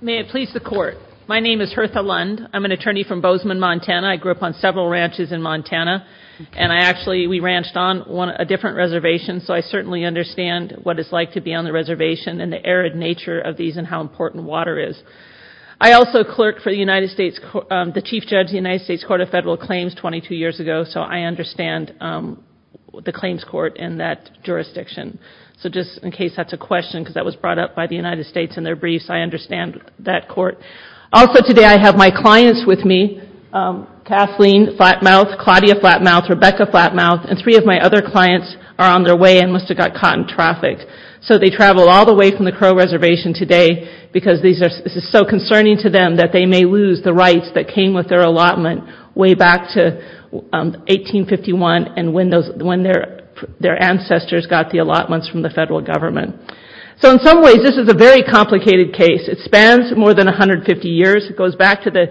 May it please the Court. My name is Hertha Lund. I'm an attorney from Bozeman, Montana. I grew up on several ranches in Montana. And I actually, we ranched on a different reservation, so I certainly understand what it's like to be on the reservation and the arid nature of these and how important water is. I also clerked for the Chief Judge of the United States Court of Federal Claims 22 years ago, so I understand the claims court in that jurisdiction. So just in case that's a question, because that was brought up by the United States in their briefs, I understand that court. Also today I have my clients with me, Kathleen Flatmouth, Claudia Flatmouth, Rebecca Flatmouth, and three of my other clients are on their way and must have gotten caught in traffic. So they traveled all the way from the Crow Reservation today because this is so concerning to them that they may lose the rights that came with their allotment way back to 1851 and when their ancestors got the allotments from the federal government. So in some ways this is a very complicated case. It spans more than 150 years. It goes back to the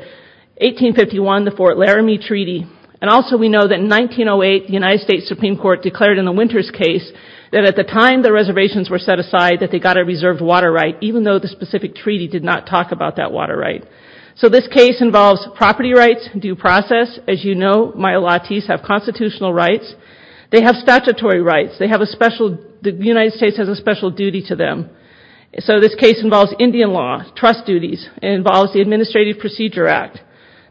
1851, the Fort Laramie Treaty. And also we know that in 1908 the United States Supreme Court declared in the Winters case that at the time the reservations were set aside that they got a reserved water right, even though the specific treaty did not talk about that water right. So this case involves property rights, due process. As you know, my allottees have constitutional rights. They have statutory rights. The United States has a special duty to them. So this case involves Indian law, trust duties. It involves the Administrative Procedure Act,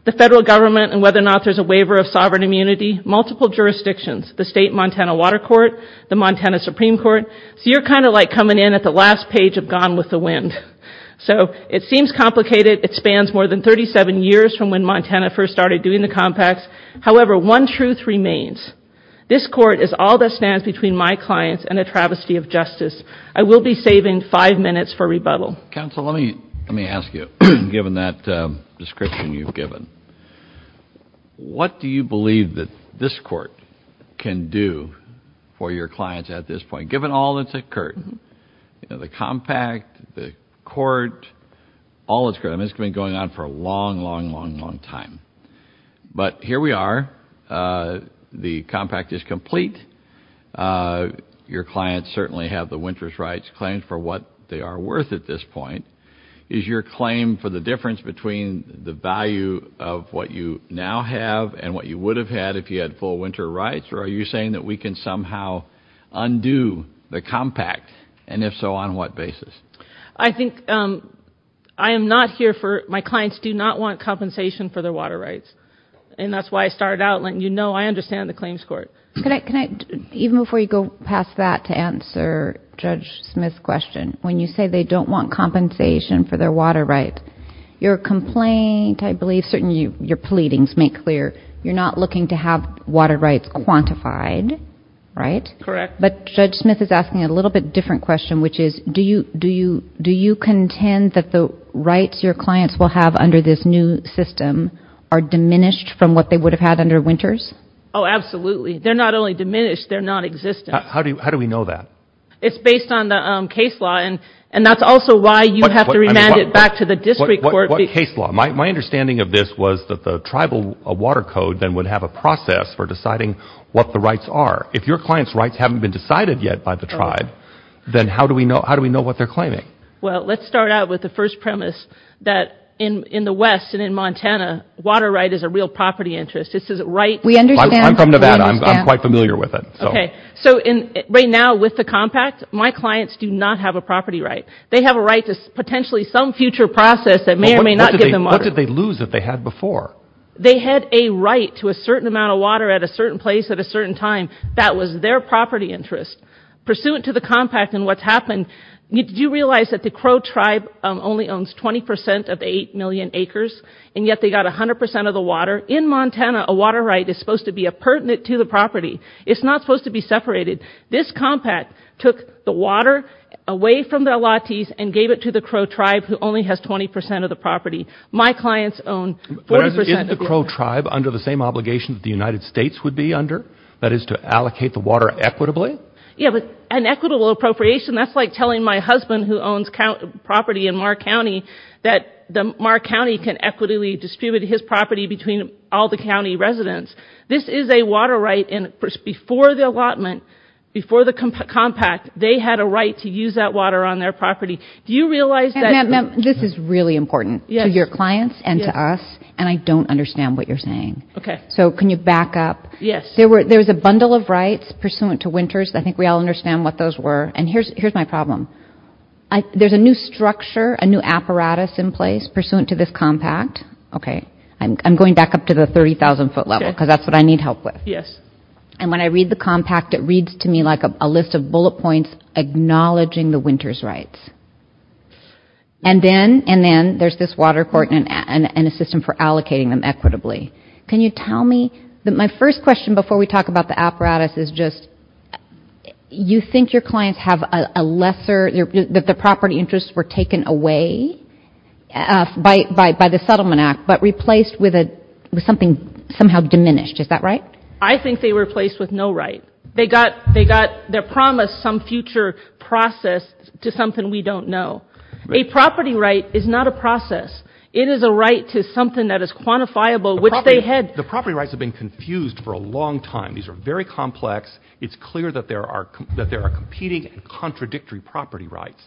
the federal government and whether or not there's a waiver of sovereign immunity, multiple jurisdictions, the state Montana Water Court, the Montana Supreme Court. So you're kind of like coming in at the last page of Gone with the Wind. So it seems complicated. It spans more than 37 years from when Montana first started doing the compacts. However, one truth remains. This court is all that stands between my clients and a travesty of justice. I will be saving five minutes for rebuttal. Counsel, let me ask you, given that description you've given, what do you believe that this court can do for your clients at this point, given all that's occurred? The compact, the court, all that's occurred. I mean, it's been going on for a long, long, long, long time. But here we are. The compact is complete. Your clients certainly have the winter's rights claimed for what they are worth at this point. Is your claim for the difference between the value of what you now have and what you would have had if you had full winter rights? Or are you saying that we can somehow undo the compact? And if so, on what basis? I think I am not here for my clients do not want compensation for their water rights. And that's why I started out letting you know I understand the claims court. Even before you go past that to answer Judge Smith's question, when you say they don't want compensation for their water rights, your complaint, I believe, certainly your pleadings make clear, you're not looking to have water rights quantified, right? Correct. But Judge Smith is asking a little bit different question, which is do you contend that the rights your clients will have under this new system are diminished from what they would have had under winters? Oh, absolutely. They're not only diminished, they're nonexistent. How do we know that? It's based on the case law, and that's also why you have to remand it back to the district court. What case law? My understanding of this was that the tribal water code then would have a process for deciding what the rights are. If your client's rights haven't been decided yet by the tribe, then how do we know what they're claiming? Well, let's start out with the first premise that in the West and in Montana, water right is a real property interest. I'm from Nevada. I'm quite familiar with it. So right now with the compact, my clients do not have a property right. They have a right to potentially some future process that may or may not give them water. What did they lose that they had before? They had a right to a certain amount of water at a certain place at a certain time. That was their property interest. Pursuant to the compact and what's happened, did you realize that the Crow tribe only owns 20% of the 8 million acres, and yet they got 100% of the water? In Montana, a water right is supposed to be a pertinent to the property. It's not supposed to be separated. This compact took the water away from the allottees and gave it to the Crow tribe who only has 20% of the property. My clients own 40% of the water. But isn't the Crow tribe under the same obligation that the United States would be under? That is to allocate the water equitably? Yeah, but an equitable appropriation, that's like telling my husband who owns property in Marr County that Marr County can equitably distribute his property between all the county residents. This is a water right, and before the allotment, before the compact, they had a right to use that water on their property. Do you realize that? Ma'am, this is really important to your clients and to us, and I don't understand what you're saying. Okay. So can you back up? Yes. There was a bundle of rights pursuant to Winters. I think we all understand what those were. And here's my problem. There's a new structure, a new apparatus in place pursuant to this compact. Okay. I'm going back up to the 30,000-foot level because that's what I need help with. Yes. And when I read the compact, it reads to me like a list of bullet points acknowledging the Winters rights. And then there's this water court and a system for allocating them equitably. Can you tell me? My first question before we talk about the apparatus is just, you think your clients have a lesser, that their property interests were taken away by the Settlement Act but replaced with something somehow diminished. Is that right? I think they were replaced with no right. They got their promise some future process to something we don't know. A property right is not a process. It is a right to something that is quantifiable, which they had. The property rights have been confused for a long time. These are very complex. It's clear that there are competing and contradictory property rights.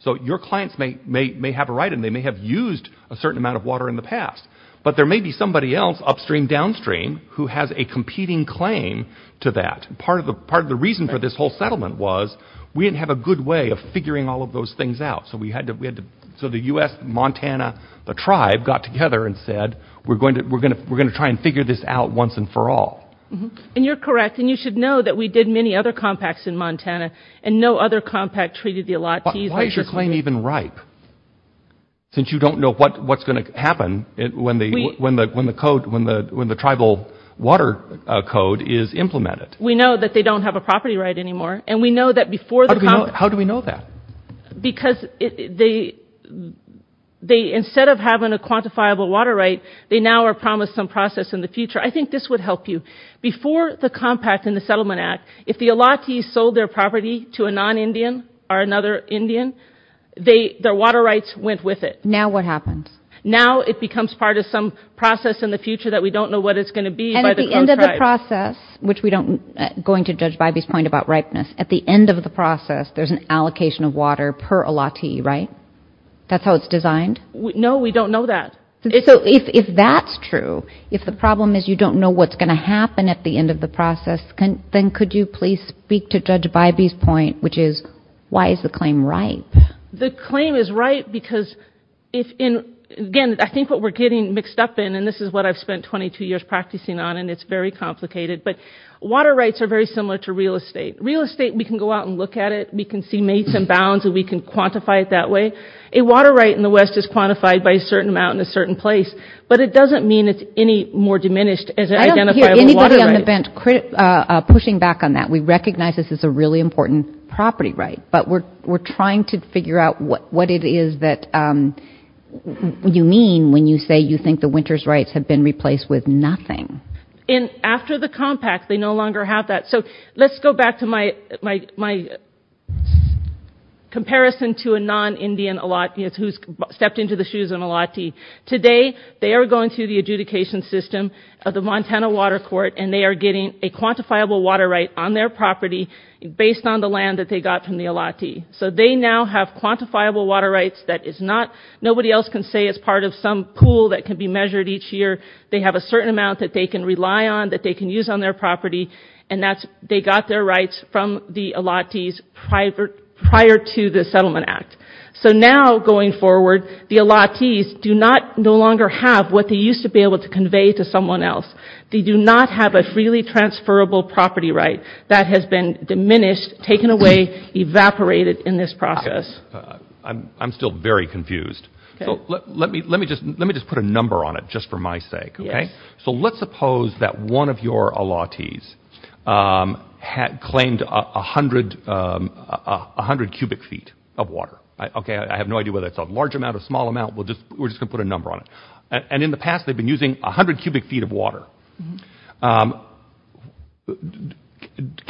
So your clients may have a right, and they may have used a certain amount of water in the past. But there may be somebody else upstream, downstream, who has a competing claim to that. Part of the reason for this whole settlement was we didn't have a good way of figuring all of those things out. So the U.S., Montana, the tribe got together and said, we're going to try and figure this out once and for all. And you're correct. And you should know that we did many other compacts in Montana, and no other compact treated the allottees. Why is your claim even ripe, since you don't know what's going to happen when the tribal water code is implemented? We know that they don't have a property right anymore. How do we know that? Because instead of having a quantifiable water right, they now are promised some process in the future. I think this would help you. Before the compact and the Settlement Act, if the allottees sold their property to a non-Indian or another Indian, their water rights went with it. Now what happens? Now it becomes part of some process in the future that we don't know what it's going to be by the code tribe. And at the end of the process, which we don't going to judge Bybee's point about ripeness, at the end of the process, there's an allocation of water per allottee, right? That's how it's designed? No, we don't know that. So if that's true, if the problem is you don't know what's going to happen at the end of the process, then could you please speak to Judge Bybee's point, which is why is the claim right? The claim is right because, again, I think what we're getting mixed up in, and this is what I've spent 22 years practicing on and it's very complicated, but water rights are very similar to real estate. Real estate, we can go out and look at it. We can see mates and bounds and we can quantify it that way. A water right in the West is quantified by a certain amount in a certain place, but it doesn't mean it's any more diminished as an identifiable water right. I don't hear anybody on the bench pushing back on that. We recognize this is a really important property right, but we're trying to figure out what it is that you mean when you say you think the winter's rights have been replaced with nothing. And after the compact, they no longer have that. So let's go back to my comparison to a non-Indian allottee who's stepped into the shoes of an allottee. Today, they are going through the adjudication system of the Montana Water Court and they are getting a quantifiable water right on their property based on the land that they got from the allottee. So they now have quantifiable water rights that nobody else can say is part of some pool that can be measured each year. They have a certain amount that they can rely on, that they can use on their property, and they got their rights from the allottees prior to the Settlement Act. So now, going forward, the allottees do not no longer have what they used to be able to convey to someone else. They do not have a freely transferable property right that has been diminished, taken away, evaporated in this process. I'm still very confused. Let me just put a number on it just for my sake, okay? So let's suppose that one of your allottees claimed 100 cubic feet of water. Okay, I have no idea whether it's a large amount or a small amount. We're just going to put a number on it. And in the past, they've been using 100 cubic feet of water.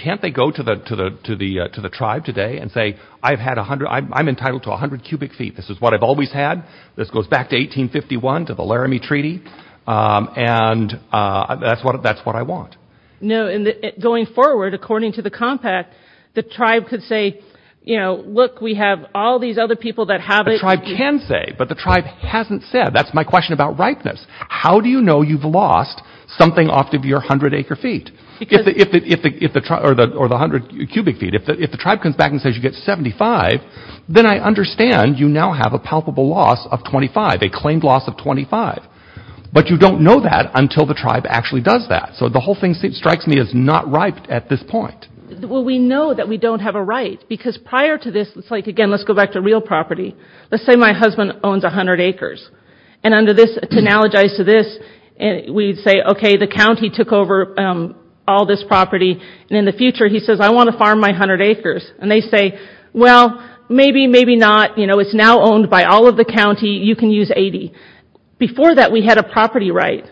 Can't they go to the tribe today and say, I'm entitled to 100 cubic feet. This is what I've always had. This goes back to 1851 to the Laramie Treaty. And that's what I want. No, and going forward, according to the compact, the tribe could say, you know, look, we have all these other people that have it. A tribe can say, but the tribe hasn't said. That's my question about ripeness. How do you know you've lost something off of your 100 acre feet? Or the 100 cubic feet. If the tribe comes back and says you get 75, then I understand you now have a palpable loss of 25, a claimed loss of 25. But you don't know that until the tribe actually does that. So the whole thing strikes me as not ripe at this point. Well, we know that we don't have a right. Because prior to this, it's like, again, let's go back to real property. Let's say my husband owns 100 acres. And under this, to analogize to this, we'd say, okay, the county took over all this property. And in the future, he says, I want to farm my 100 acres. And they say, well, maybe, maybe not. You know, it's now owned by all of the county. You can use 80. Before that, we had a property right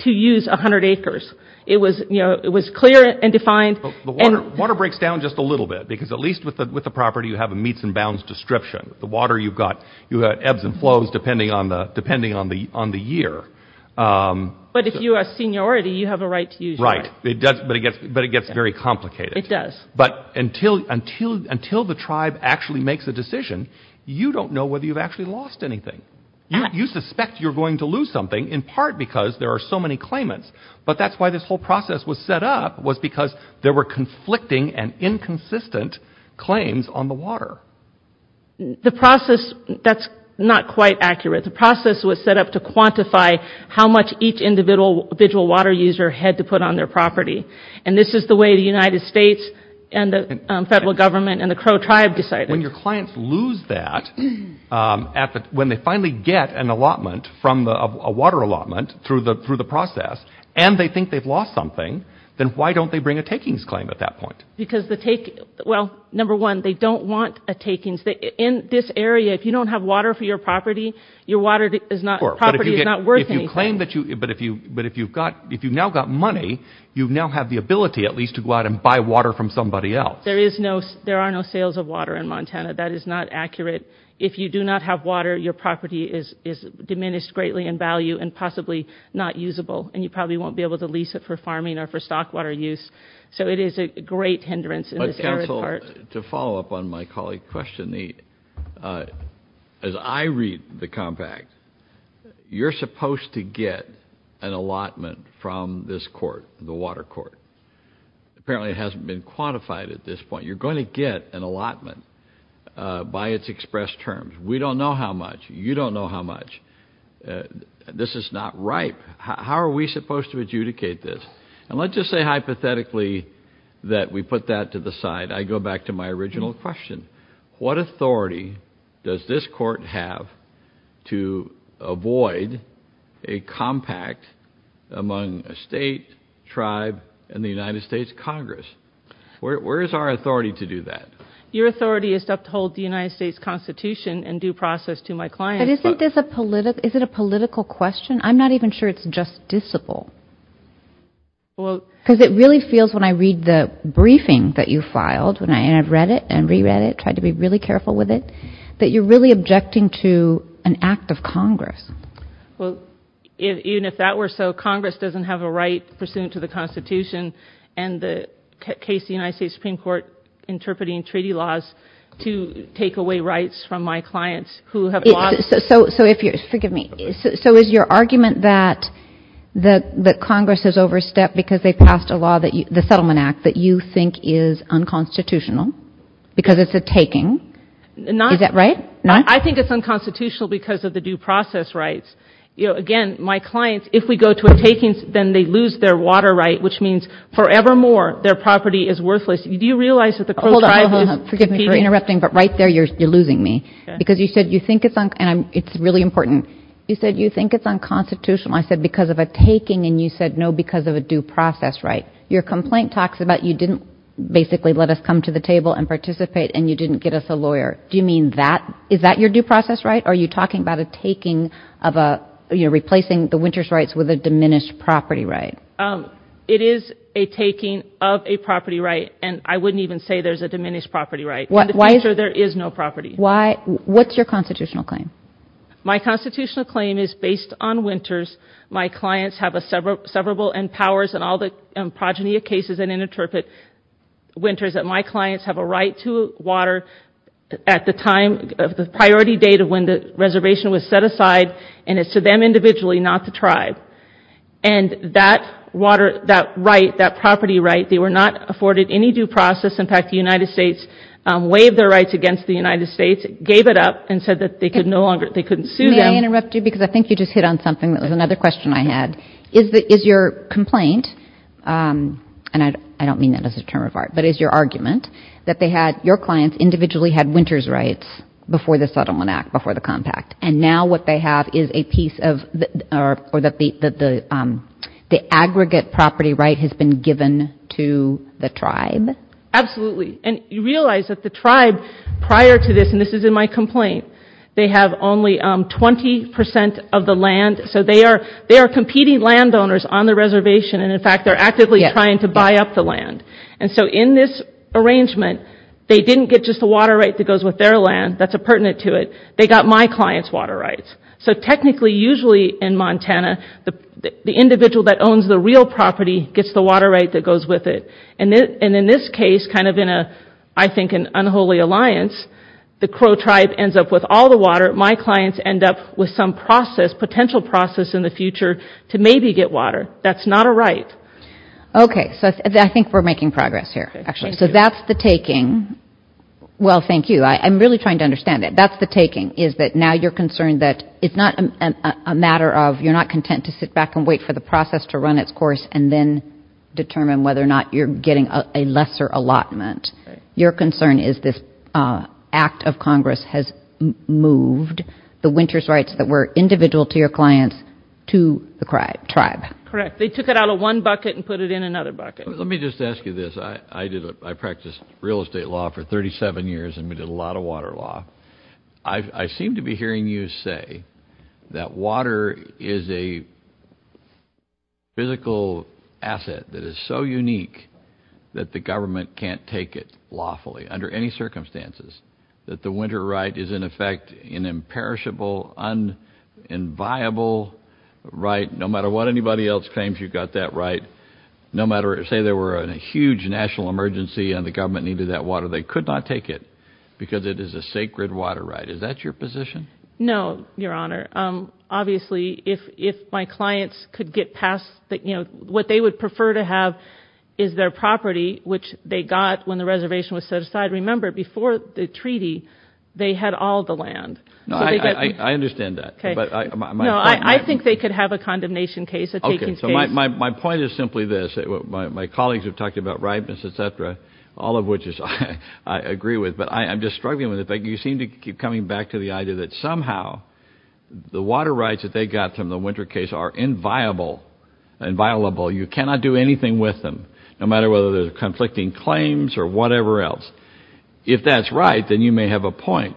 to use 100 acres. It was clear and defined. Water breaks down just a little bit. Because at least with the property, you have a meets and bounds description. The water, you've got ebbs and flows depending on the year. But if you are a seniority, you have a right to use that. Right. But it gets very complicated. It does. But until the tribe actually makes a decision, you don't know whether you've actually lost anything. You suspect you're going to lose something, in part because there are so many claimants. But that's why this whole process was set up, was because there were conflicting and inconsistent claims on the water. The process, that's not quite accurate. The process was set up to quantify how much each individual water user had to put on their property. And this is the way the United States and the federal government and the Crow tribe decided. When your clients lose that, when they finally get an allotment, a water allotment through the process, and they think they've lost something, then why don't they bring a takings claim at that point? Because the takings, well, number one, they don't want a takings. In this area, if you don't have water for your property, your property is not worth anything. But if you've now got money, you now have the ability at least to go out and buy water from somebody else. There are no sales of water in Montana. That is not accurate. If you do not have water, your property is diminished greatly in value and possibly not usable, and you probably won't be able to lease it for farming or for stock water use. So it is a great hindrance in this area. But, counsel, to follow up on my colleague's question, as I read the compact, you're supposed to get an allotment from this court, the water court. Apparently it hasn't been quantified at this point. You're going to get an allotment by its expressed terms. We don't know how much. You don't know how much. This is not ripe. How are we supposed to adjudicate this? And let's just say hypothetically that we put that to the side. I go back to my original question. What authority does this court have to avoid a compact among a state, tribe, and the United States Congress? Where is our authority to do that? Your authority is to uphold the United States Constitution and due process to my client. But isn't this a political question? I'm not even sure it's justiciable. Because it really feels, when I read the briefing that you filed, and I've read it and reread it, tried to be really careful with it, that you're really objecting to an act of Congress. Well, even if that were so, Congress doesn't have a right pursuant to the Constitution and the case of the United States Supreme Court interpreting treaty laws to take away rights from my clients who have lost. So is your argument that Congress has overstepped because they passed a law, the Settlement Act, that you think is unconstitutional because it's a taking? Is that right? I think it's unconstitutional because of the due process rights. Again, my clients, if we go to a takings, then they lose their water right, which means forevermore their property is worthless. Do you realize that the Crow tribe is competing? Hold on, hold on. Forgive me for interrupting, but right there you're losing me. Because you said you think it's unconstitutional. I said because of a taking, and you said no, because of a due process right. Your complaint talks about you didn't basically let us come to the table and participate and you didn't get us a lawyer. Do you mean that? Is that your due process right? Are you talking about a taking of a, you know, replacing the Winters rights with a diminished property right? It is a taking of a property right, and I wouldn't even say there's a diminished property right. In the future, there is no property. What's your constitutional claim? My constitutional claim is based on Winters. My clients have a severable and powers in all the progeny of cases and interpret Winters that my clients have a right to water at the time, the priority date of when the reservation was set aside, and it's to them individually, not the tribe. And that right, that property right, they were not afforded any due process. In fact, the United States waived their rights against the United States, gave it up, and said that they could no longer, they couldn't sue them. May I interrupt you? Because I think you just hit on something that was another question I had. Is your complaint, and I don't mean that as a term of art, but is your argument that they had, your clients individually had Winters rights before the Sutherland Act, before the compact, and now what they have is a piece of, or that the aggregate property right has been given to the tribe? Absolutely. And you realize that the tribe prior to this, and this is in my complaint, they have only 20% of the land. So they are competing landowners on the reservation, and in fact they're actively trying to buy up the land. And so in this arrangement, they didn't get just the water right that goes with their land. That's a pertinent to it. They got my client's water rights. So technically, usually in Montana, the individual that owns the real property gets the water right that goes with it. And in this case, kind of in a, I think an unholy alliance, the Crow tribe ends up with all the water. My clients end up with some process, potential process in the future, to maybe get water. That's not a right. Okay. So I think we're making progress here, actually. So that's the taking. Well, thank you. I'm really trying to understand it. That's the taking, is that now you're concerned that it's not a matter of, you're not content to sit back and wait for the process to run its course and then determine whether or not you're getting a lesser allotment. Your concern is this act of Congress has moved the winter's rights that were individual to your clients to the tribe. Correct. They took it out of one bucket and put it in another bucket. Let me just ask you this. I practiced real estate law for 37 years and we did a lot of water law. I seem to be hearing you say that water is a physical asset that is so unique that the government can't take it lawfully under any circumstances, that the winter right is, in effect, an imperishable, unenviable right. No matter what anybody else claims, you've got that right. Say there were a huge national emergency and the government needed that water, they could not take it because it is a sacred water right. Is that your position? No, Your Honor. Obviously, if my clients could get past, you know, what they would prefer to have is their property, which they got when the reservation was set aside. Remember, before the treaty, they had all the land. I understand that. No, I think they could have a condemnation case, a taking case. Okay, so my point is simply this. My colleagues have talked about ripeness, et cetera, all of which I agree with. But I'm just struggling with it. You seem to keep coming back to the idea that somehow the water rights that they got from the winter case are inviolable. You cannot do anything with them, no matter whether they're conflicting claims or whatever else. If that's right, then you may have a point.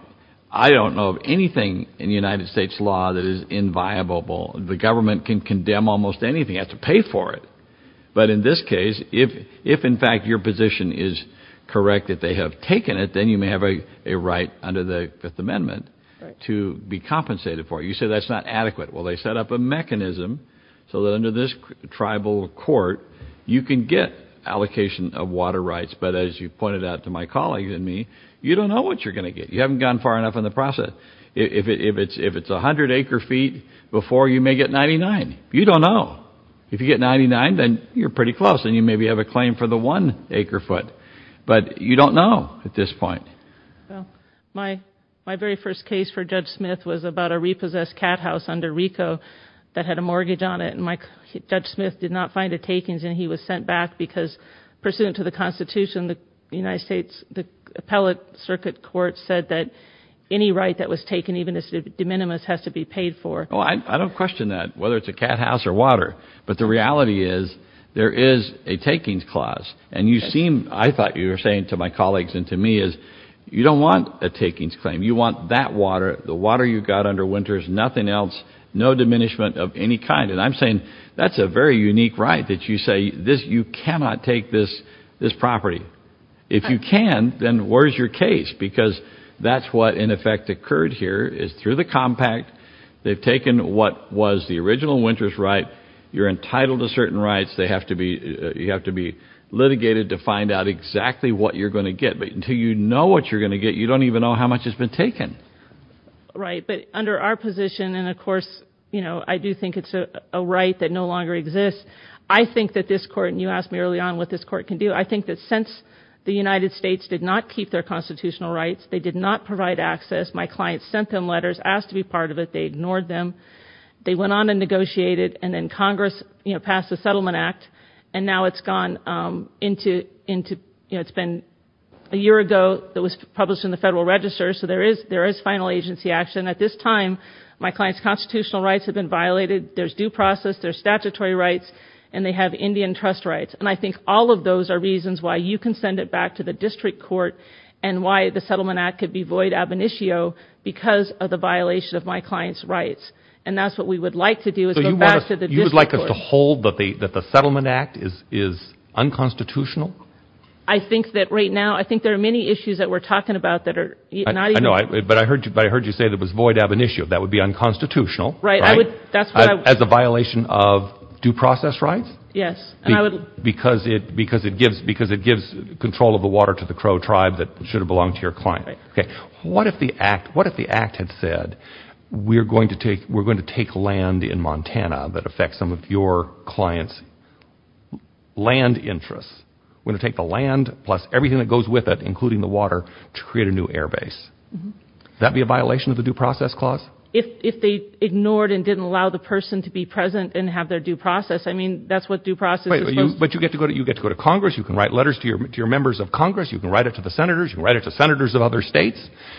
I don't know of anything in the United States law that is inviolable. The government can condemn almost anything. You have to pay for it. But in this case, if, in fact, your position is correct that they have taken it, then you may have a right under the Fifth Amendment to be compensated for it. You say that's not adequate. Well, they set up a mechanism so that under this tribal court, you can get allocation of water rights. But as you pointed out to my colleagues and me, you don't know what you're going to get. You haven't gone far enough in the process. If it's 100 acre feet before, you may get 99. You don't know. If you get 99, then you're pretty close, and you maybe have a claim for the one acre foot. But you don't know at this point. My very first case for Judge Smith was about a repossessed cat house under RICO that had a mortgage on it, and Judge Smith did not find the takings, and he was sent back because, pursuant to the Constitution, the United States Appellate Circuit Court said that any right that was taken, even if it's de minimis, has to be paid for. Well, I don't question that, whether it's a cat house or water. But the reality is there is a takings clause. And you seem, I thought you were saying to my colleagues and to me, is you don't want a takings claim. You want that water, the water you've got under winters, nothing else, no diminishment of any kind. And I'm saying that's a very unique right that you say you cannot take this property. If you can, then where's your case? Because that's what, in effect, occurred here is through the compact. They've taken what was the original winter's right. You're entitled to certain rights. You have to be litigated to find out exactly what you're going to get. But until you know what you're going to get, you don't even know how much has been taken. But under our position, and, of course, I do think it's a right that no longer exists, I think that this Court, and you asked me early on what this Court can do, I think that since the United States did not keep their constitutional rights, they did not provide access, my clients sent them letters, asked to be part of it, they ignored them. They went on and negotiated, and then Congress passed the Settlement Act, and now it's gone into, you know, it's been a year ago, it was published in the Federal Register, so there is final agency action. At this time, my client's constitutional rights have been violated, there's due process, there's statutory rights, and they have Indian trust rights. And I think all of those are reasons why you can send it back to the District Court and why the Settlement Act could be void ab initio because of the violation of my client's rights. And that's what we would like to do is go back to the District Court. So you would like us to hold that the Settlement Act is unconstitutional? I think that right now, I think there are many issues that we're talking about that are not even... I know, but I heard you say that it was void ab initio, that would be unconstitutional, right? Right, I would, that's what I... As a violation of due process rights? Yes, and I would... Because it gives control of the water to the Crow tribe that should have belonged to your client. Okay, what if the Act had said, we're going to take land in Montana that affects some of your client's land interests. We're going to take the land plus everything that goes with it, including the water, to create a new air base. Would that be a violation of the due process clause? If they ignored and didn't allow the person to be present and have their due process, I mean, that's what due process is supposed to... But you get to go to Congress, you can write letters to your members of Congress, you can write it to the Senators, you can write it to Senators of other states,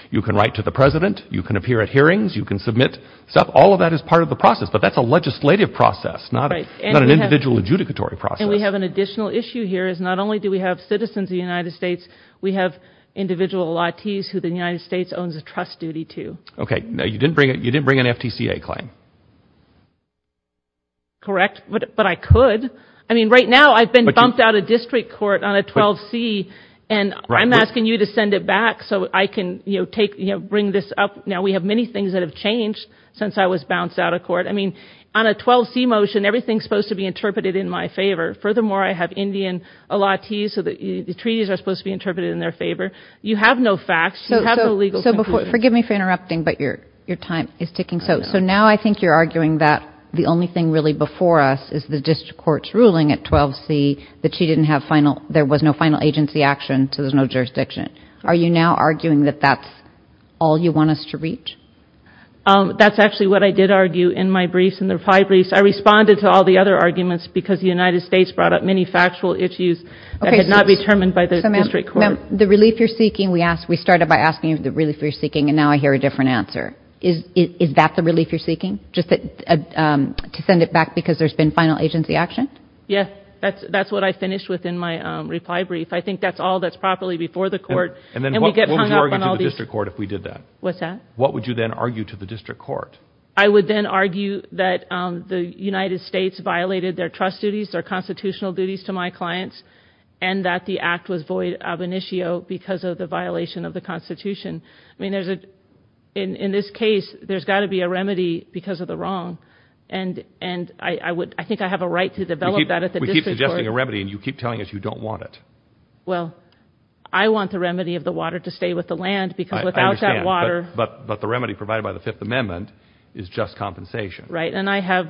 you can write to the President, you can appear at hearings, you can submit stuff, all of that is part of the process, but that's a legislative process, not an individual adjudicatory process. And we have an additional issue here, is not only do we have citizens of the United States, we have individual latis who the United States owns a trust duty to. Okay, now you didn't bring an FTCA claim? Correct, but I could. I mean, right now I've been bumped out of district court on a 12C, and I'm asking you to send it back so I can bring this up. Now, we have many things that have changed since I was bounced out of court. I mean, on a 12C motion, everything is supposed to be interpreted in my favor. Furthermore, I have Indian latis, so the treaties are supposed to be interpreted in their favor. You have no facts, you have no legal conclusions. So forgive me for interrupting, but your time is ticking. So now I think you're arguing that the only thing really before us is the district court's ruling at 12C, that she didn't have final, there was no final agency action, so there's no jurisdiction. Are you now arguing that that's all you want us to reach? That's actually what I did argue in my briefs, in the reply briefs. I responded to all the other arguments because the United States brought up many factual issues that had not been determined by the district court. The relief you're seeking, we started by asking you the relief you're seeking, and now I hear a different answer. Is that the relief you're seeking, just to send it back because there's been final agency action? Yes, that's what I finished with in my reply brief. I think that's all that's properly before the court, and we get hung up on all these. What would you argue to the district court if we did that? What's that? What would you then argue to the district court? I would then argue that the United States violated their trust duties, their constitutional duties to my clients, and that the act was void ab initio because of the violation of the Constitution. I mean, in this case, there's got to be a remedy because of the wrong, and I think I have a right to develop that at the district court. We keep suggesting a remedy, and you keep telling us you don't want it. Well, I want the remedy of the water to stay with the land because without that water— I understand, but the remedy provided by the Fifth Amendment is just compensation. Right, and I have,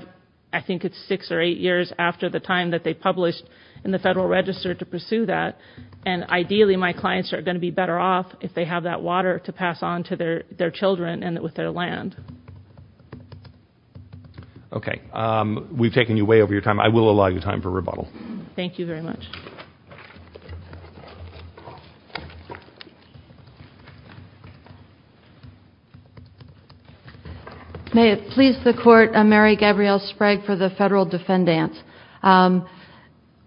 I think it's six or eight years after the time that they published in the Federal Register to pursue that, and ideally my clients are going to be better off if they have that water to pass on to their children and with their land. Okay. We've taken you way over your time. I will allow you time for rebuttal. Thank you very much. May it please the Court, I'm Mary Gabrielle Sprague for the Federal Defendants.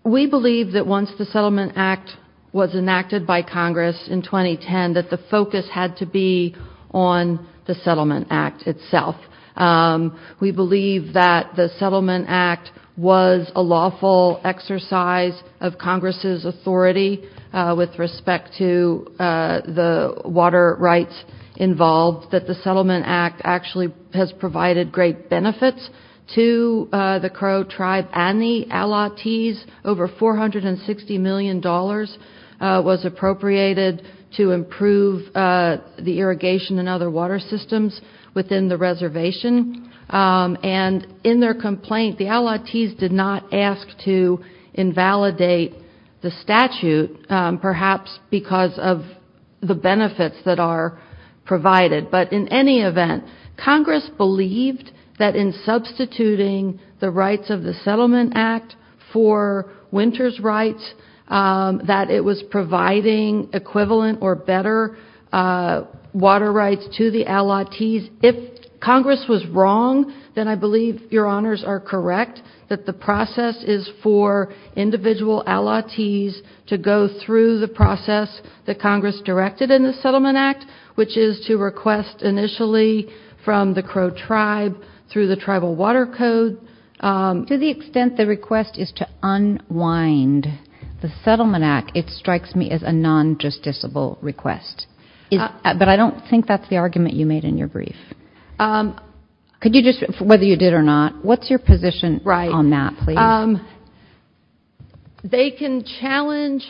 We believe that once the Settlement Act was enacted by Congress in 2010 that the focus had to be on the Settlement Act itself. We believe that the Settlement Act was a lawful exercise of Congress's authority with respect to the water rights involved, that the Settlement Act actually has provided great benefits to the Crow tribe and the Allottees. Over $460 million was appropriated to improve the irrigation and other water systems within the reservation, and in their complaint the Allottees did not ask to invalidate the statute, perhaps because of the benefits that are provided. But in any event, Congress believed that in substituting the rights of the Settlement Act for winter's rights, that it was providing equivalent or better water rights to the Allottees. If Congress was wrong, then I believe your Honors are correct that the process is for individual Allottees to go through the process that Congress directed in the Settlement Act, which is to request initially from the Crow tribe through the Tribal Water Code. To the extent the request is to unwind the Settlement Act, it strikes me as a non-justiciable request. But I don't think that's the argument you made in your brief. Could you just, whether you did or not, what's your position on that please? They can challenge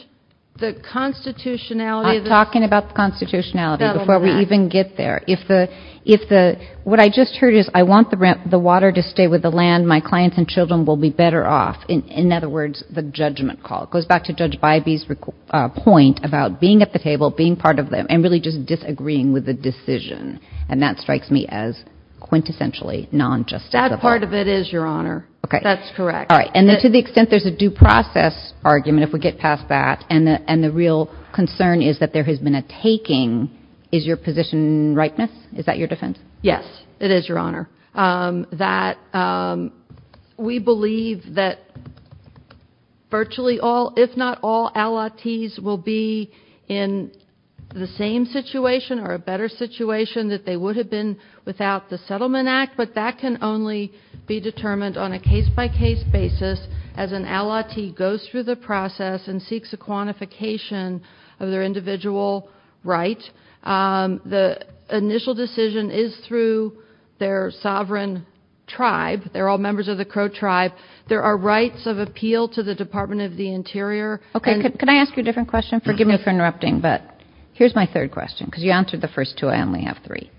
the constitutionality of this. I'm talking about the constitutionality before we even get there. If the, what I just heard is I want the water to stay with the land, my clients and children will be better off. In other words, the judgment call. It goes back to Judge Bybee's point about being at the table, being part of them, and really just disagreeing with the decision. And that strikes me as quintessentially non-justifiable. That part of it is, Your Honor. Okay. That's correct. All right. And to the extent there's a due process argument, if we get past that, and the real concern is that there has been a taking, is your position rightness? Is that your defense? Yes, it is, Your Honor. That we believe that virtually all, if not all, allottees will be in the same situation or a better situation that they would have been without the Settlement Act. But that can only be determined on a case-by-case basis as an allottee goes through the process and seeks a quantification of their individual right. The initial decision is through their sovereign tribe. They're all members of the Crow tribe. There are rights of appeal to the Department of the Interior. Okay. Can I ask you a different question? Forgive me for interrupting, but here's my third question, because you answered the first two. I only have three.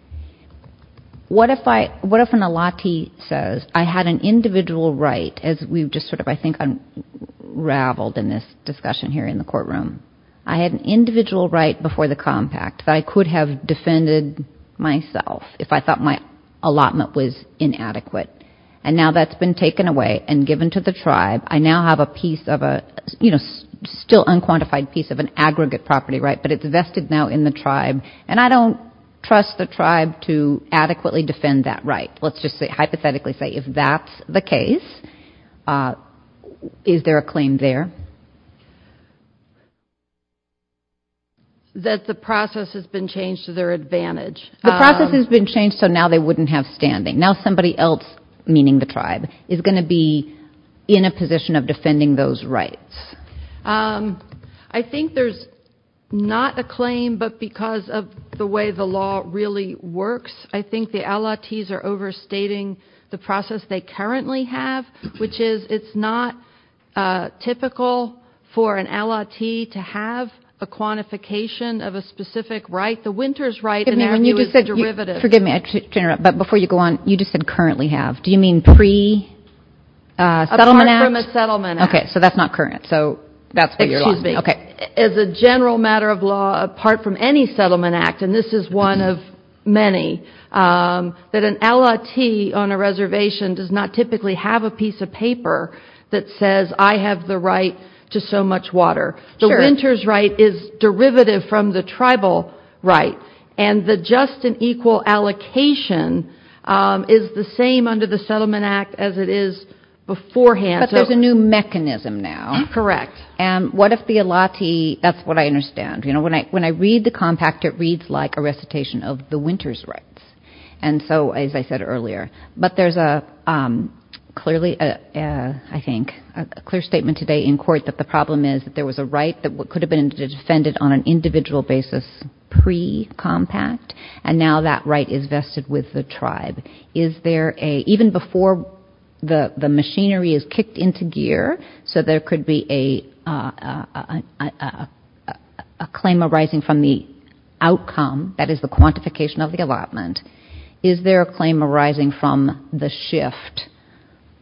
What if an allottee says, I had an individual right, as we've just sort of I think unraveled in this discussion here in the courtroom, I had an individual right before the compact that I could have defended myself if I thought my allotment was inadequate. And now that's been taken away and given to the tribe. I now have a piece of a, you know, still unquantified piece of an aggregate property right, but it's vested now in the tribe. And I don't trust the tribe to adequately defend that right. Let's just hypothetically say if that's the case, is there a claim there? That the process has been changed to their advantage. The process has been changed so now they wouldn't have standing. Now somebody else, meaning the tribe, is going to be in a position of defending those rights. I think there's not a claim, but because of the way the law really works, I think the allottees are overstating the process they currently have, which is it's not typical for an allottee to have a quantification of a specific right. The winter's right in our view is the derivative. Forgive me. But before you go on, you just said currently have. Do you mean pre-settlement act? Apart from a settlement act. Okay, so that's not current. So that's where you're lying. Excuse me. Okay. As a general matter of law, apart from any settlement act, and this is one of many, that an allottee on a reservation does not typically have a piece of paper that says, I have the right to so much water. Sure. The winter's right is derivative from the tribal right, and the just and equal allocation is the same under the settlement act as it is beforehand. But there's a new mechanism now. Correct. And what if the allottee, that's what I understand. You know, when I read the compact, it reads like a recitation of the winter's rights. And so, as I said earlier, but there's a clearly, I think, a clear statement today in court that the problem is that there was a right that could have been defended on an individual basis pre-compact, and now that right is vested with the tribe. Is there a, even before the machinery is kicked into gear, so there could be a claim arising from the outcome, that is the quantification of the allotment, is there a claim arising from the shift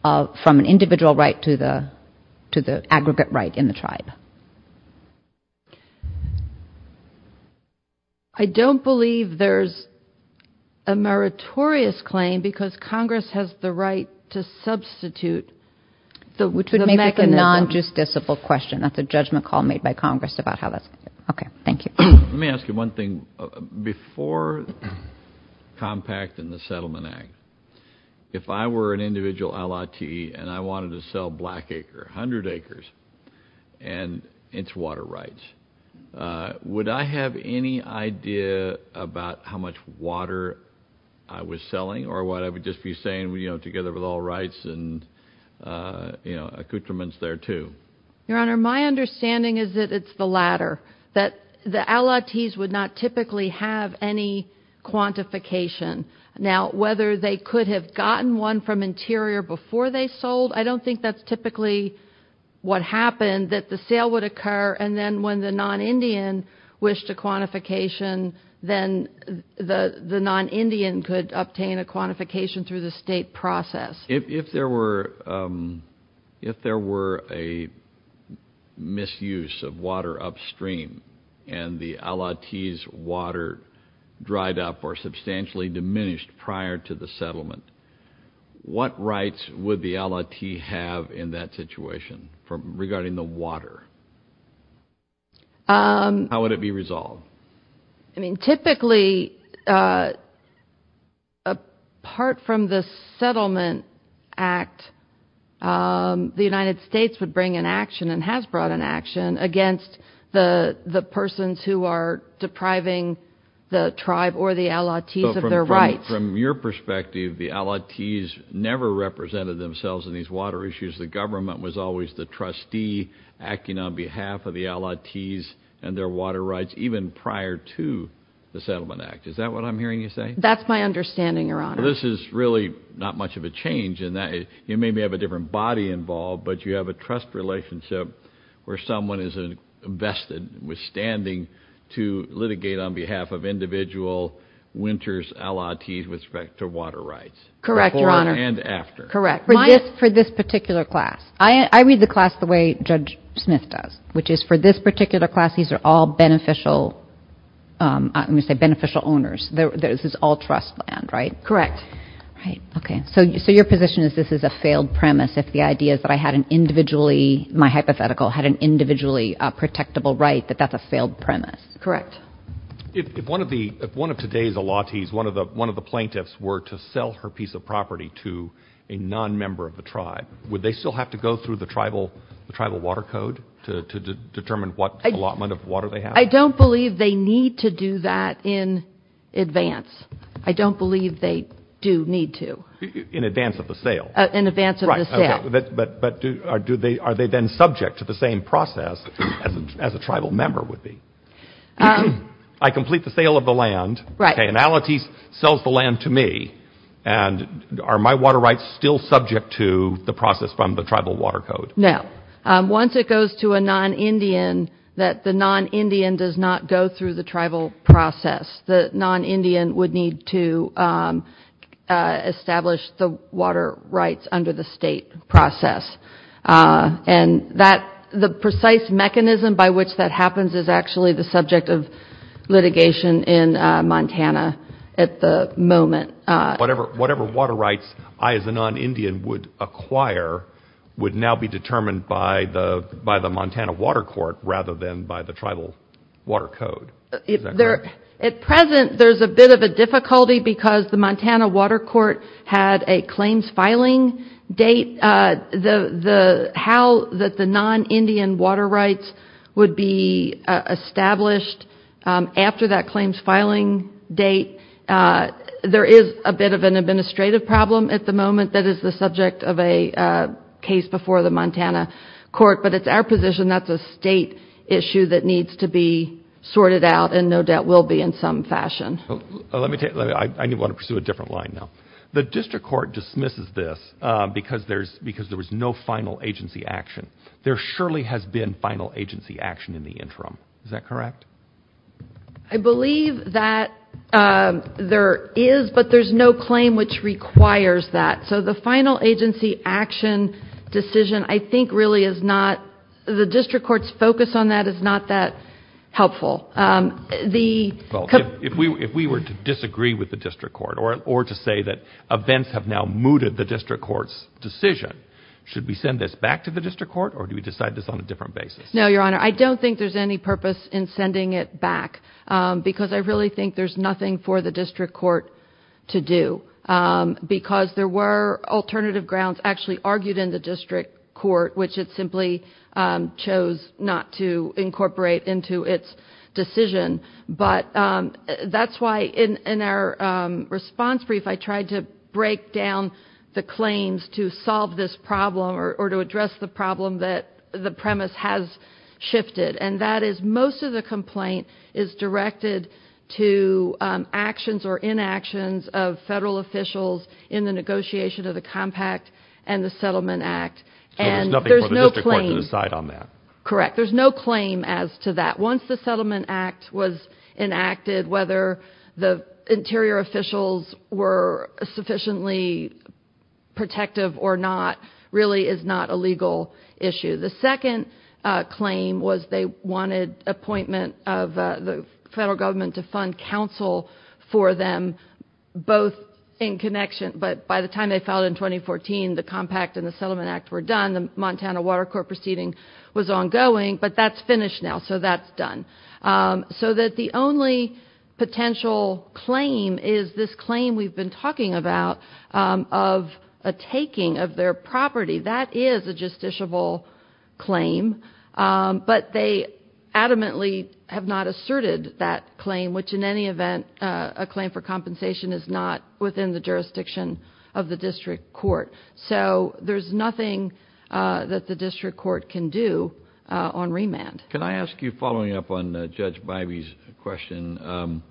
from an individual right to the aggregate right in the tribe? I don't believe there's a meritorious claim because Congress has the right to substitute the mechanism. It would make a non-justiciable question. That's a judgment call made by Congress about how that's going to work. Okay. Thank you. Let me ask you one thing. Before compact and the settlement act, if I were an individual allottee and I wanted to sell a black acre, 100 acres, and it's water rights, would I have any idea about how much water I was selling, or would I just be saying together with all rights and accoutrements thereto? Your Honor, my understanding is that it's the latter, that the allottees would not typically have any quantification. Now, whether they could have gotten one from Interior before they sold, I don't think that's typically what happened, that the sale would occur, and then when the non-Indian wished a quantification, then the non-Indian could obtain a quantification through the state process. If there were a misuse of water upstream and the allottee's water dried up or substantially diminished prior to the settlement, what rights would the allottee have in that situation regarding the water? How would it be resolved? I mean, typically, apart from the settlement act, the United States would bring an action and has brought an action against the persons who are depriving the tribe or the allottees of their rights. From your perspective, the allottees never represented themselves in these water issues. The government was always the trustee acting on behalf of the allottees and their water rights, even prior to the settlement act. Is that what I'm hearing you say? That's my understanding, Your Honor. Well, this is really not much of a change in that. You maybe have a different body involved, but you have a trust relationship where someone is invested withstanding to litigate on behalf of individual winters allottees with respect to water rights. Correct, Your Honor. Before and after. Correct. For this particular class. I read the class the way Judge Smith does, which is for this particular class, these are all beneficial owners. This is all trust land, right? Correct. Okay. So your position is this is a failed premise if the idea is that I had an individually, my hypothetical, had an individually protectable right, that that's a failed premise. Correct. If one of today's allottees, one of the plaintiffs, were to sell her piece of property to a nonmember of the tribe, would they still have to go through the tribal water code to determine what allotment of water they have? I don't believe they need to do that in advance. I don't believe they do need to. In advance of the sale. In advance of the sale. Right. But are they then subject to the same process as a tribal member would be? I complete the sale of the land. Right. An allottee sells the land to me, and are my water rights still subject to the process from the tribal water code? No. Once it goes to a non-Indian, that the non-Indian does not go through the tribal process. The non-Indian would need to establish the water rights under the state process. And the precise mechanism by which that happens is actually the subject of litigation in Montana at the moment. Whatever water rights I as a non-Indian would acquire would now be determined by the Montana Water Court rather than by the tribal water code. At present, there's a bit of a difficulty because the Montana Water Court had a claims filing date. How the non-Indian water rights would be established after that claims filing date, there is a bit of an administrative problem at the moment that is the subject of a case before the Montana Court. But it's our position that's a state issue that needs to be sorted out, and no doubt will be in some fashion. Let me take that. I want to pursue a different line now. The district court dismisses this because there was no final agency action. There surely has been final agency action in the interim. Is that correct? I believe that there is, but there's no claim which requires that. So the final agency action decision I think really is not, the district court's focus on that is not that helpful. If we were to disagree with the district court or to say that events have now mooted the district court's decision, should we send this back to the district court or do we decide this on a different basis? No, Your Honor. I don't think there's any purpose in sending it back because I really think there's nothing for the district court to do because there were alternative grounds actually argued in the district court, which it simply chose not to incorporate into its decision. But that's why in our response brief I tried to break down the claims to solve this problem or to address the problem that the premise has shifted, and that is most of the complaint is directed to actions or inactions of federal officials in the negotiation of the Compact and the Settlement Act. So there's nothing for the district court to decide on that? Correct. There's no claim as to that. Once the Settlement Act was enacted, whether the interior officials were sufficiently protective or not really is not a legal issue. The second claim was they wanted appointment of the federal government to fund counsel for them both in connection. But by the time they filed in 2014, the Compact and the Settlement Act were done. The Montana Water Court proceeding was ongoing, but that's finished now, so that's done. So that the only potential claim is this claim we've been talking about of a taking of their property. That is a justiciable claim, but they adamantly have not asserted that claim, which in any event a claim for compensation is not within the jurisdiction of the district court. So there's nothing that the district court can do on remand. Can I ask you, following up on Judge Bybee's question,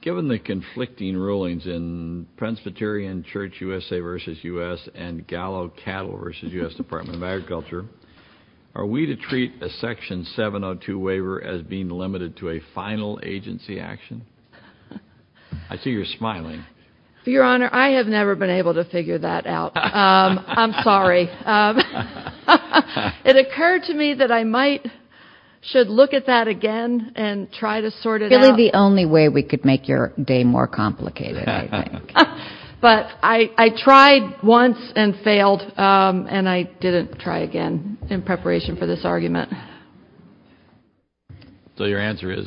given the conflicting rulings in Presbyterian Church USA v. U.S. and Gallo Cattle v. U.S. Department of Agriculture, are we to treat a Section 702 waiver as being limited to a final agency action? I see you're smiling. Your Honor, I have never been able to figure that out. I'm sorry. It occurred to me that I might, should look at that again and try to sort it out. Really the only way we could make your day more complicated, I think. But I tried once and failed, and I didn't try again in preparation for this argument. So your answer is,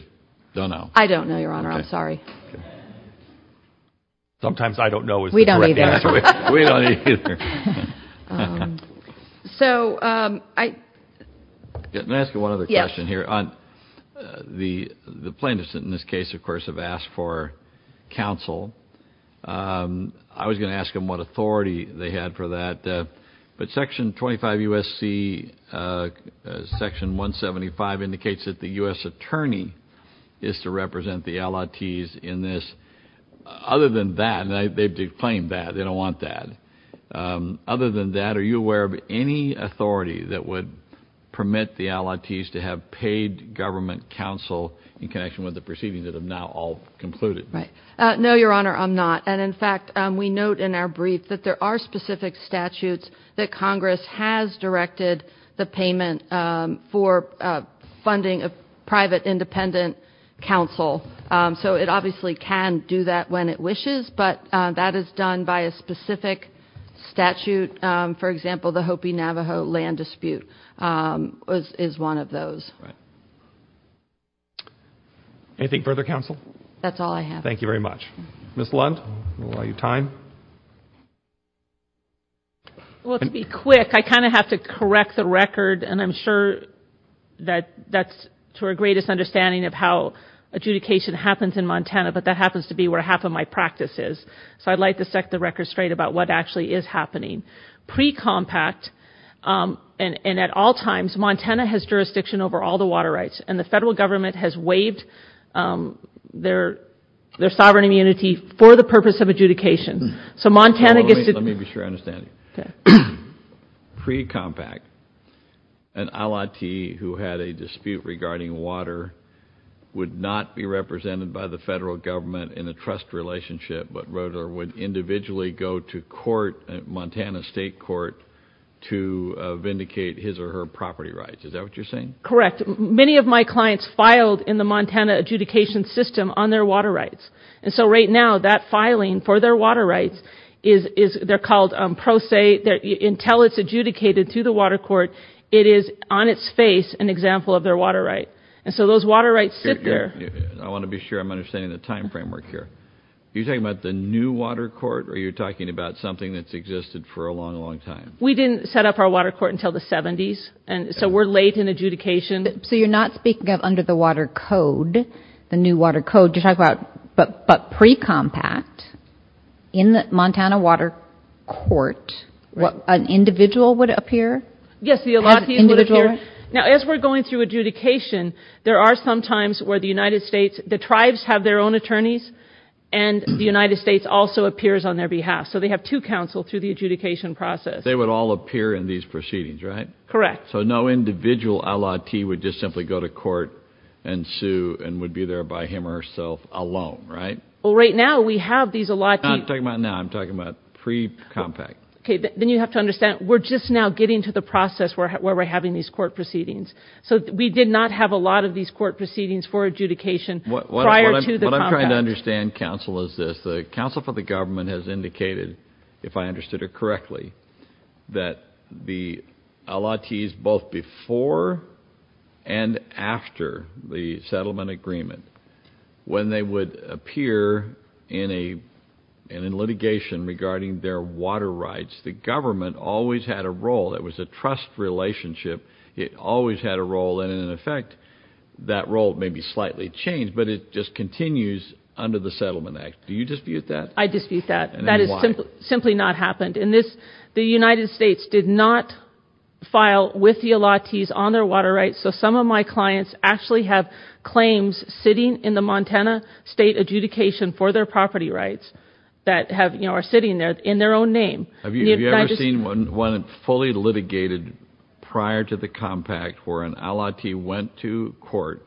don't know. I don't know, Your Honor. I'm sorry. Sometimes I don't know is the correct answer. We don't either. Let me ask you one other question here. The plaintiffs in this case, of course, have asked for counsel. I was going to ask them what authority they had for that. But Section 25 U.S.C., Section 175 indicates that the U.S. attorney is to represent the LITs in this. Other than that, they've declaimed that. They don't want that. Other than that, are you aware of any authority that would permit the LITs to have paid government counsel in connection with the proceedings that have now all concluded? No, Your Honor, I'm not. And, in fact, we note in our brief that there are specific statutes that Congress has directed the payment for funding a private independent counsel. So it obviously can do that when it wishes, but that is done by a specific statute. For example, the Hopi-Navajo land dispute is one of those. Right. Anything further, counsel? That's all I have. Thank you very much. Ms. Lund, we'll allow you time. Well, to be quick, I kind of have to correct the record, and I'm sure that that's to our greatest understanding of how adjudication happens in Montana, but that happens to be where half of my practice is. So I'd like to set the record straight about what actually is happening. Pre-compact, and at all times, Montana has jurisdiction over all the water rights, and the federal government has waived their sovereign immunity for the purpose of adjudication. So Montana gets to do it. Let me be sure I understand. Okay. Pre-compact, an allottee who had a dispute regarding water would not be represented by the federal government in a trust relationship but would individually go to court, Montana State Court, to vindicate his or her property rights. Is that what you're saying? Correct. Many of my clients filed in the Montana adjudication system on their water rights. And so right now, that filing for their water rights is called pro se. Until it's adjudicated to the water court, it is on its face an example of their water right. And so those water rights sit there. I want to be sure I'm understanding the time framework here. Are you talking about the new water court, or are you talking about something that's existed for a long, long time? We didn't set up our water court until the 70s. And so we're late in adjudication. So you're not speaking of under the water code, the new water code. You're talking about but pre-compact in the Montana water court, an individual would appear? Yes, the allottee would appear. Now, as we're going through adjudication, there are some times where the United States, the tribes have their own attorneys and the United States also appears on their behalf. So they have two counsel through the adjudication process. They would all appear in these proceedings, right? Correct. So no individual allottee would just simply go to court and sue and would be there by him or herself alone, right? Well, right now we have these allottees. I'm not talking about now. I'm talking about pre-compact. Okay. Then you have to understand, we're just now getting to the process where we're having these court proceedings. So we did not have a lot of these court proceedings for adjudication prior to the compact. What I'm trying to understand, counsel, is this. If I understood it correctly, that the allottees both before and after the settlement agreement, when they would appear in litigation regarding their water rights, the government always had a role. It was a trust relationship. It always had a role, and in effect, that role maybe slightly changed, but it just continues under the Settlement Act. Do you dispute that? I dispute that. Why? That has simply not happened. The United States did not file with the allottees on their water rights, so some of my clients actually have claims sitting in the Montana State Adjudication for their property rights that are sitting there in their own name. Have you ever seen one fully litigated prior to the compact where an allottee went to court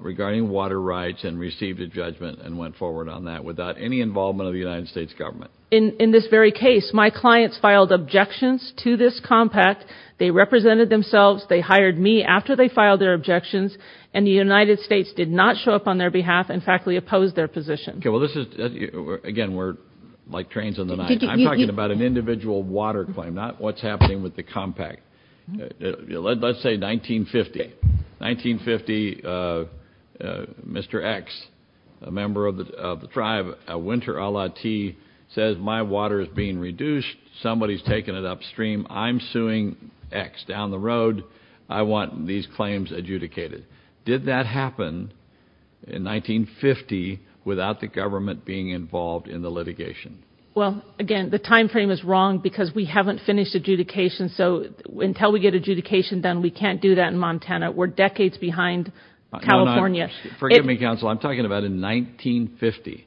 regarding water rights and received a judgment and went forward on that without any involvement of the United States government? In this very case, my clients filed objections to this compact. They represented themselves. They hired me after they filed their objections, and the United States did not show up on their behalf and factually opposed their position. Again, we're like trains on the night. I'm talking about an individual water claim, not what's happening with the compact. Let's say 1950. 1950, Mr. X, a member of the tribe, a winter allottee, says my water is being reduced. Somebody is taking it upstream. I'm suing X down the road. I want these claims adjudicated. Did that happen in 1950 without the government being involved in the litigation? Well, again, the time frame is wrong because we haven't finished adjudication, so until we get adjudication done, we can't do that in Montana. We're decades behind California. Forgive me, counsel. I'm talking about in 1950,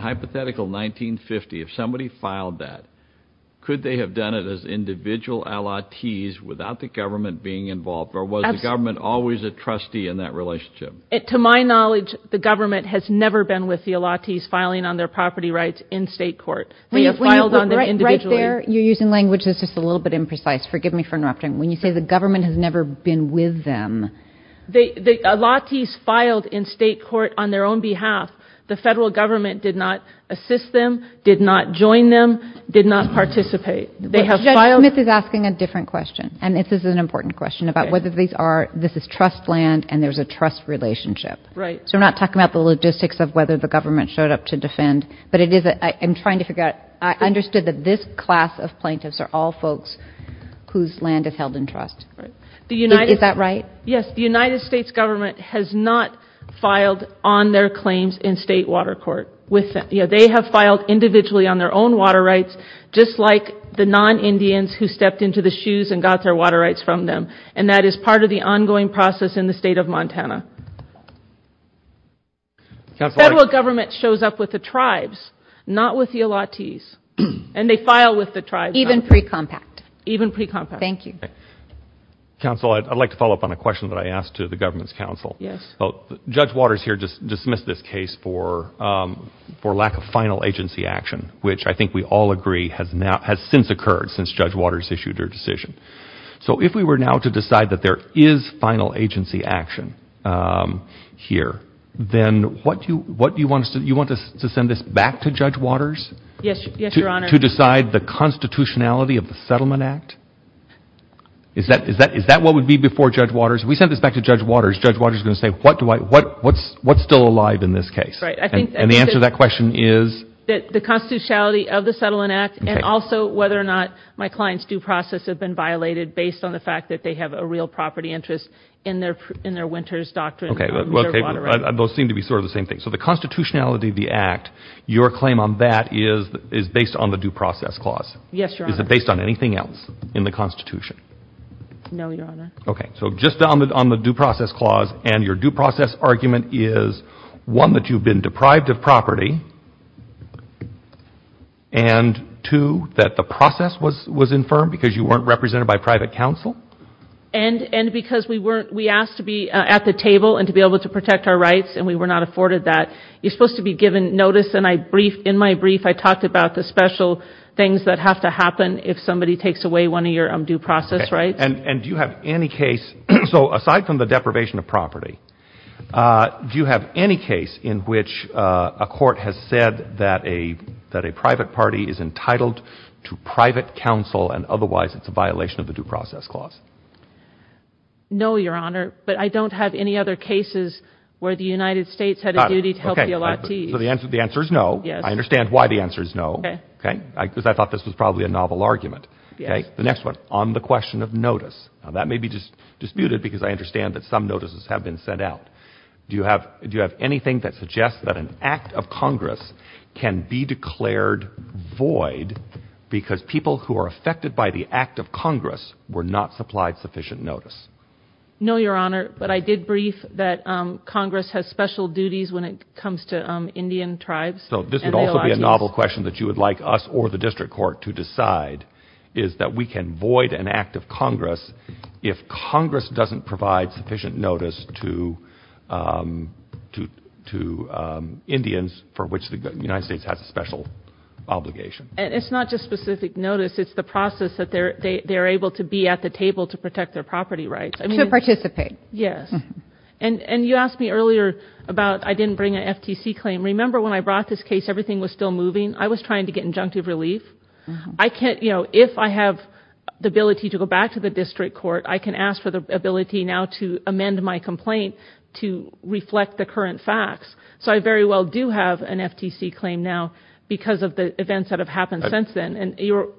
hypothetical 1950. If somebody filed that, could they have done it as individual allottees without the government being involved, or was the government always a trustee in that relationship? To my knowledge, the government has never been with the allottees filing on their property rights in state court. They have filed on them individually. Claire, you're using language that's just a little bit imprecise. Forgive me for interrupting. When you say the government has never been with them. The allottees filed in state court on their own behalf. The federal government did not assist them, did not join them, did not participate. Judge Smith is asking a different question, and this is an important question about whether this is trust land and there's a trust relationship. Right. So I'm not talking about the logistics of whether the government showed up to defend, but I'm trying to figure out, I understood that this class of plaintiffs are all folks whose land is held in trust. Is that right? Yes. The United States government has not filed on their claims in state water court. They have filed individually on their own water rights, just like the non-Indians who stepped into the shoes and got their water rights from them, and that is part of the ongoing process in the state of Montana. The federal government shows up with the tribes, not with the allottees, and they file with the tribes. Even pre-compact. Even pre-compact. Thank you. Counsel, I'd like to follow up on a question that I asked to the government's counsel. Yes. Judge Waters here just dismissed this case for lack of final agency action, which I think we all agree has since occurred since Judge Waters issued her decision. So if we were now to decide that there is final agency action here, then you want to send this back to Judge Waters? Yes, Your Honor. To decide the constitutionality of the Settlement Act? Is that what would be before Judge Waters? If we send this back to Judge Waters, Judge Waters is going to say, what's still alive in this case? And the answer to that question is? The constitutionality of the Settlement Act and also whether or not my client's due process has been violated based on the fact that they have a real property interest in their winter's doctrine. Those seem to be sort of the same thing. So the constitutionality of the Act, your claim on that is based on the due process clause. Yes, Your Honor. Is it based on anything else in the Constitution? No, Your Honor. Okay. So just on the due process clause, and your due process argument is, one, that you've been deprived of property, and two, that the process was infirmed because you weren't represented by private counsel? And because we asked to be at the table and to be able to protect our rights, and we were not afforded that. You're supposed to be given notice, and in my brief I talked about the special things that have to happen if somebody takes away one of your due process rights. Okay. And do you have any case, so aside from the deprivation of property, do you have any case in which a court has said that a private party is entitled to private counsel and otherwise it's a violation of the due process clause? No, Your Honor, but I don't have any other cases where the United States had a duty to help the elatees. So the answer is no. Yes. I understand why the answer is no, because I thought this was probably a novel argument. Yes. Okay, the next one, on the question of notice. Now that may be disputed because I understand that some notices have been sent out. Do you have anything that suggests that an act of Congress can be declared void because people who are affected by the act of Congress were not supplied sufficient notice? No, Your Honor, but I did brief that Congress has special duties when it comes to Indian tribes. So this would also be a novel question that you would like us or the district court to decide, is that we can void an act of Congress if Congress doesn't provide sufficient notice to Indians for which the United States has a special obligation. And it's not just specific notice. It's the process that they're able to be at the table to protect their property rights. To participate. Yes. And you asked me earlier about I didn't bring an FTC claim. Remember when I brought this case, everything was still moving. I was trying to get injunctive relief. I can't, you know, if I have the ability to go back to the district court, I can ask for the ability now to amend my complaint to reflect the current facts. So I very well do have an FTC claim now because of the events that have happened since then. And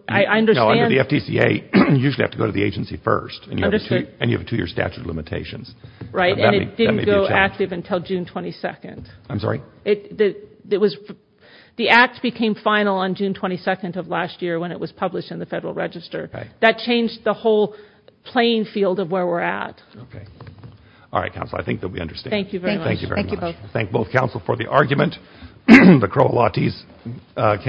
I understand. No, under the FTCA, you usually have to go to the agency first. And you have a two-year statute of limitations. Right, and it didn't go active until June 22nd. I'm sorry? The Act became final on June 22nd of last year when it was published in the Federal Register. That changed the whole playing field of where we're at. Okay. All right, Counselor, I think they'll be understandable. Thank you very much. Thank you both. Thank you very much. We thank both Counsel for the argument. The crowelotes case is submitted.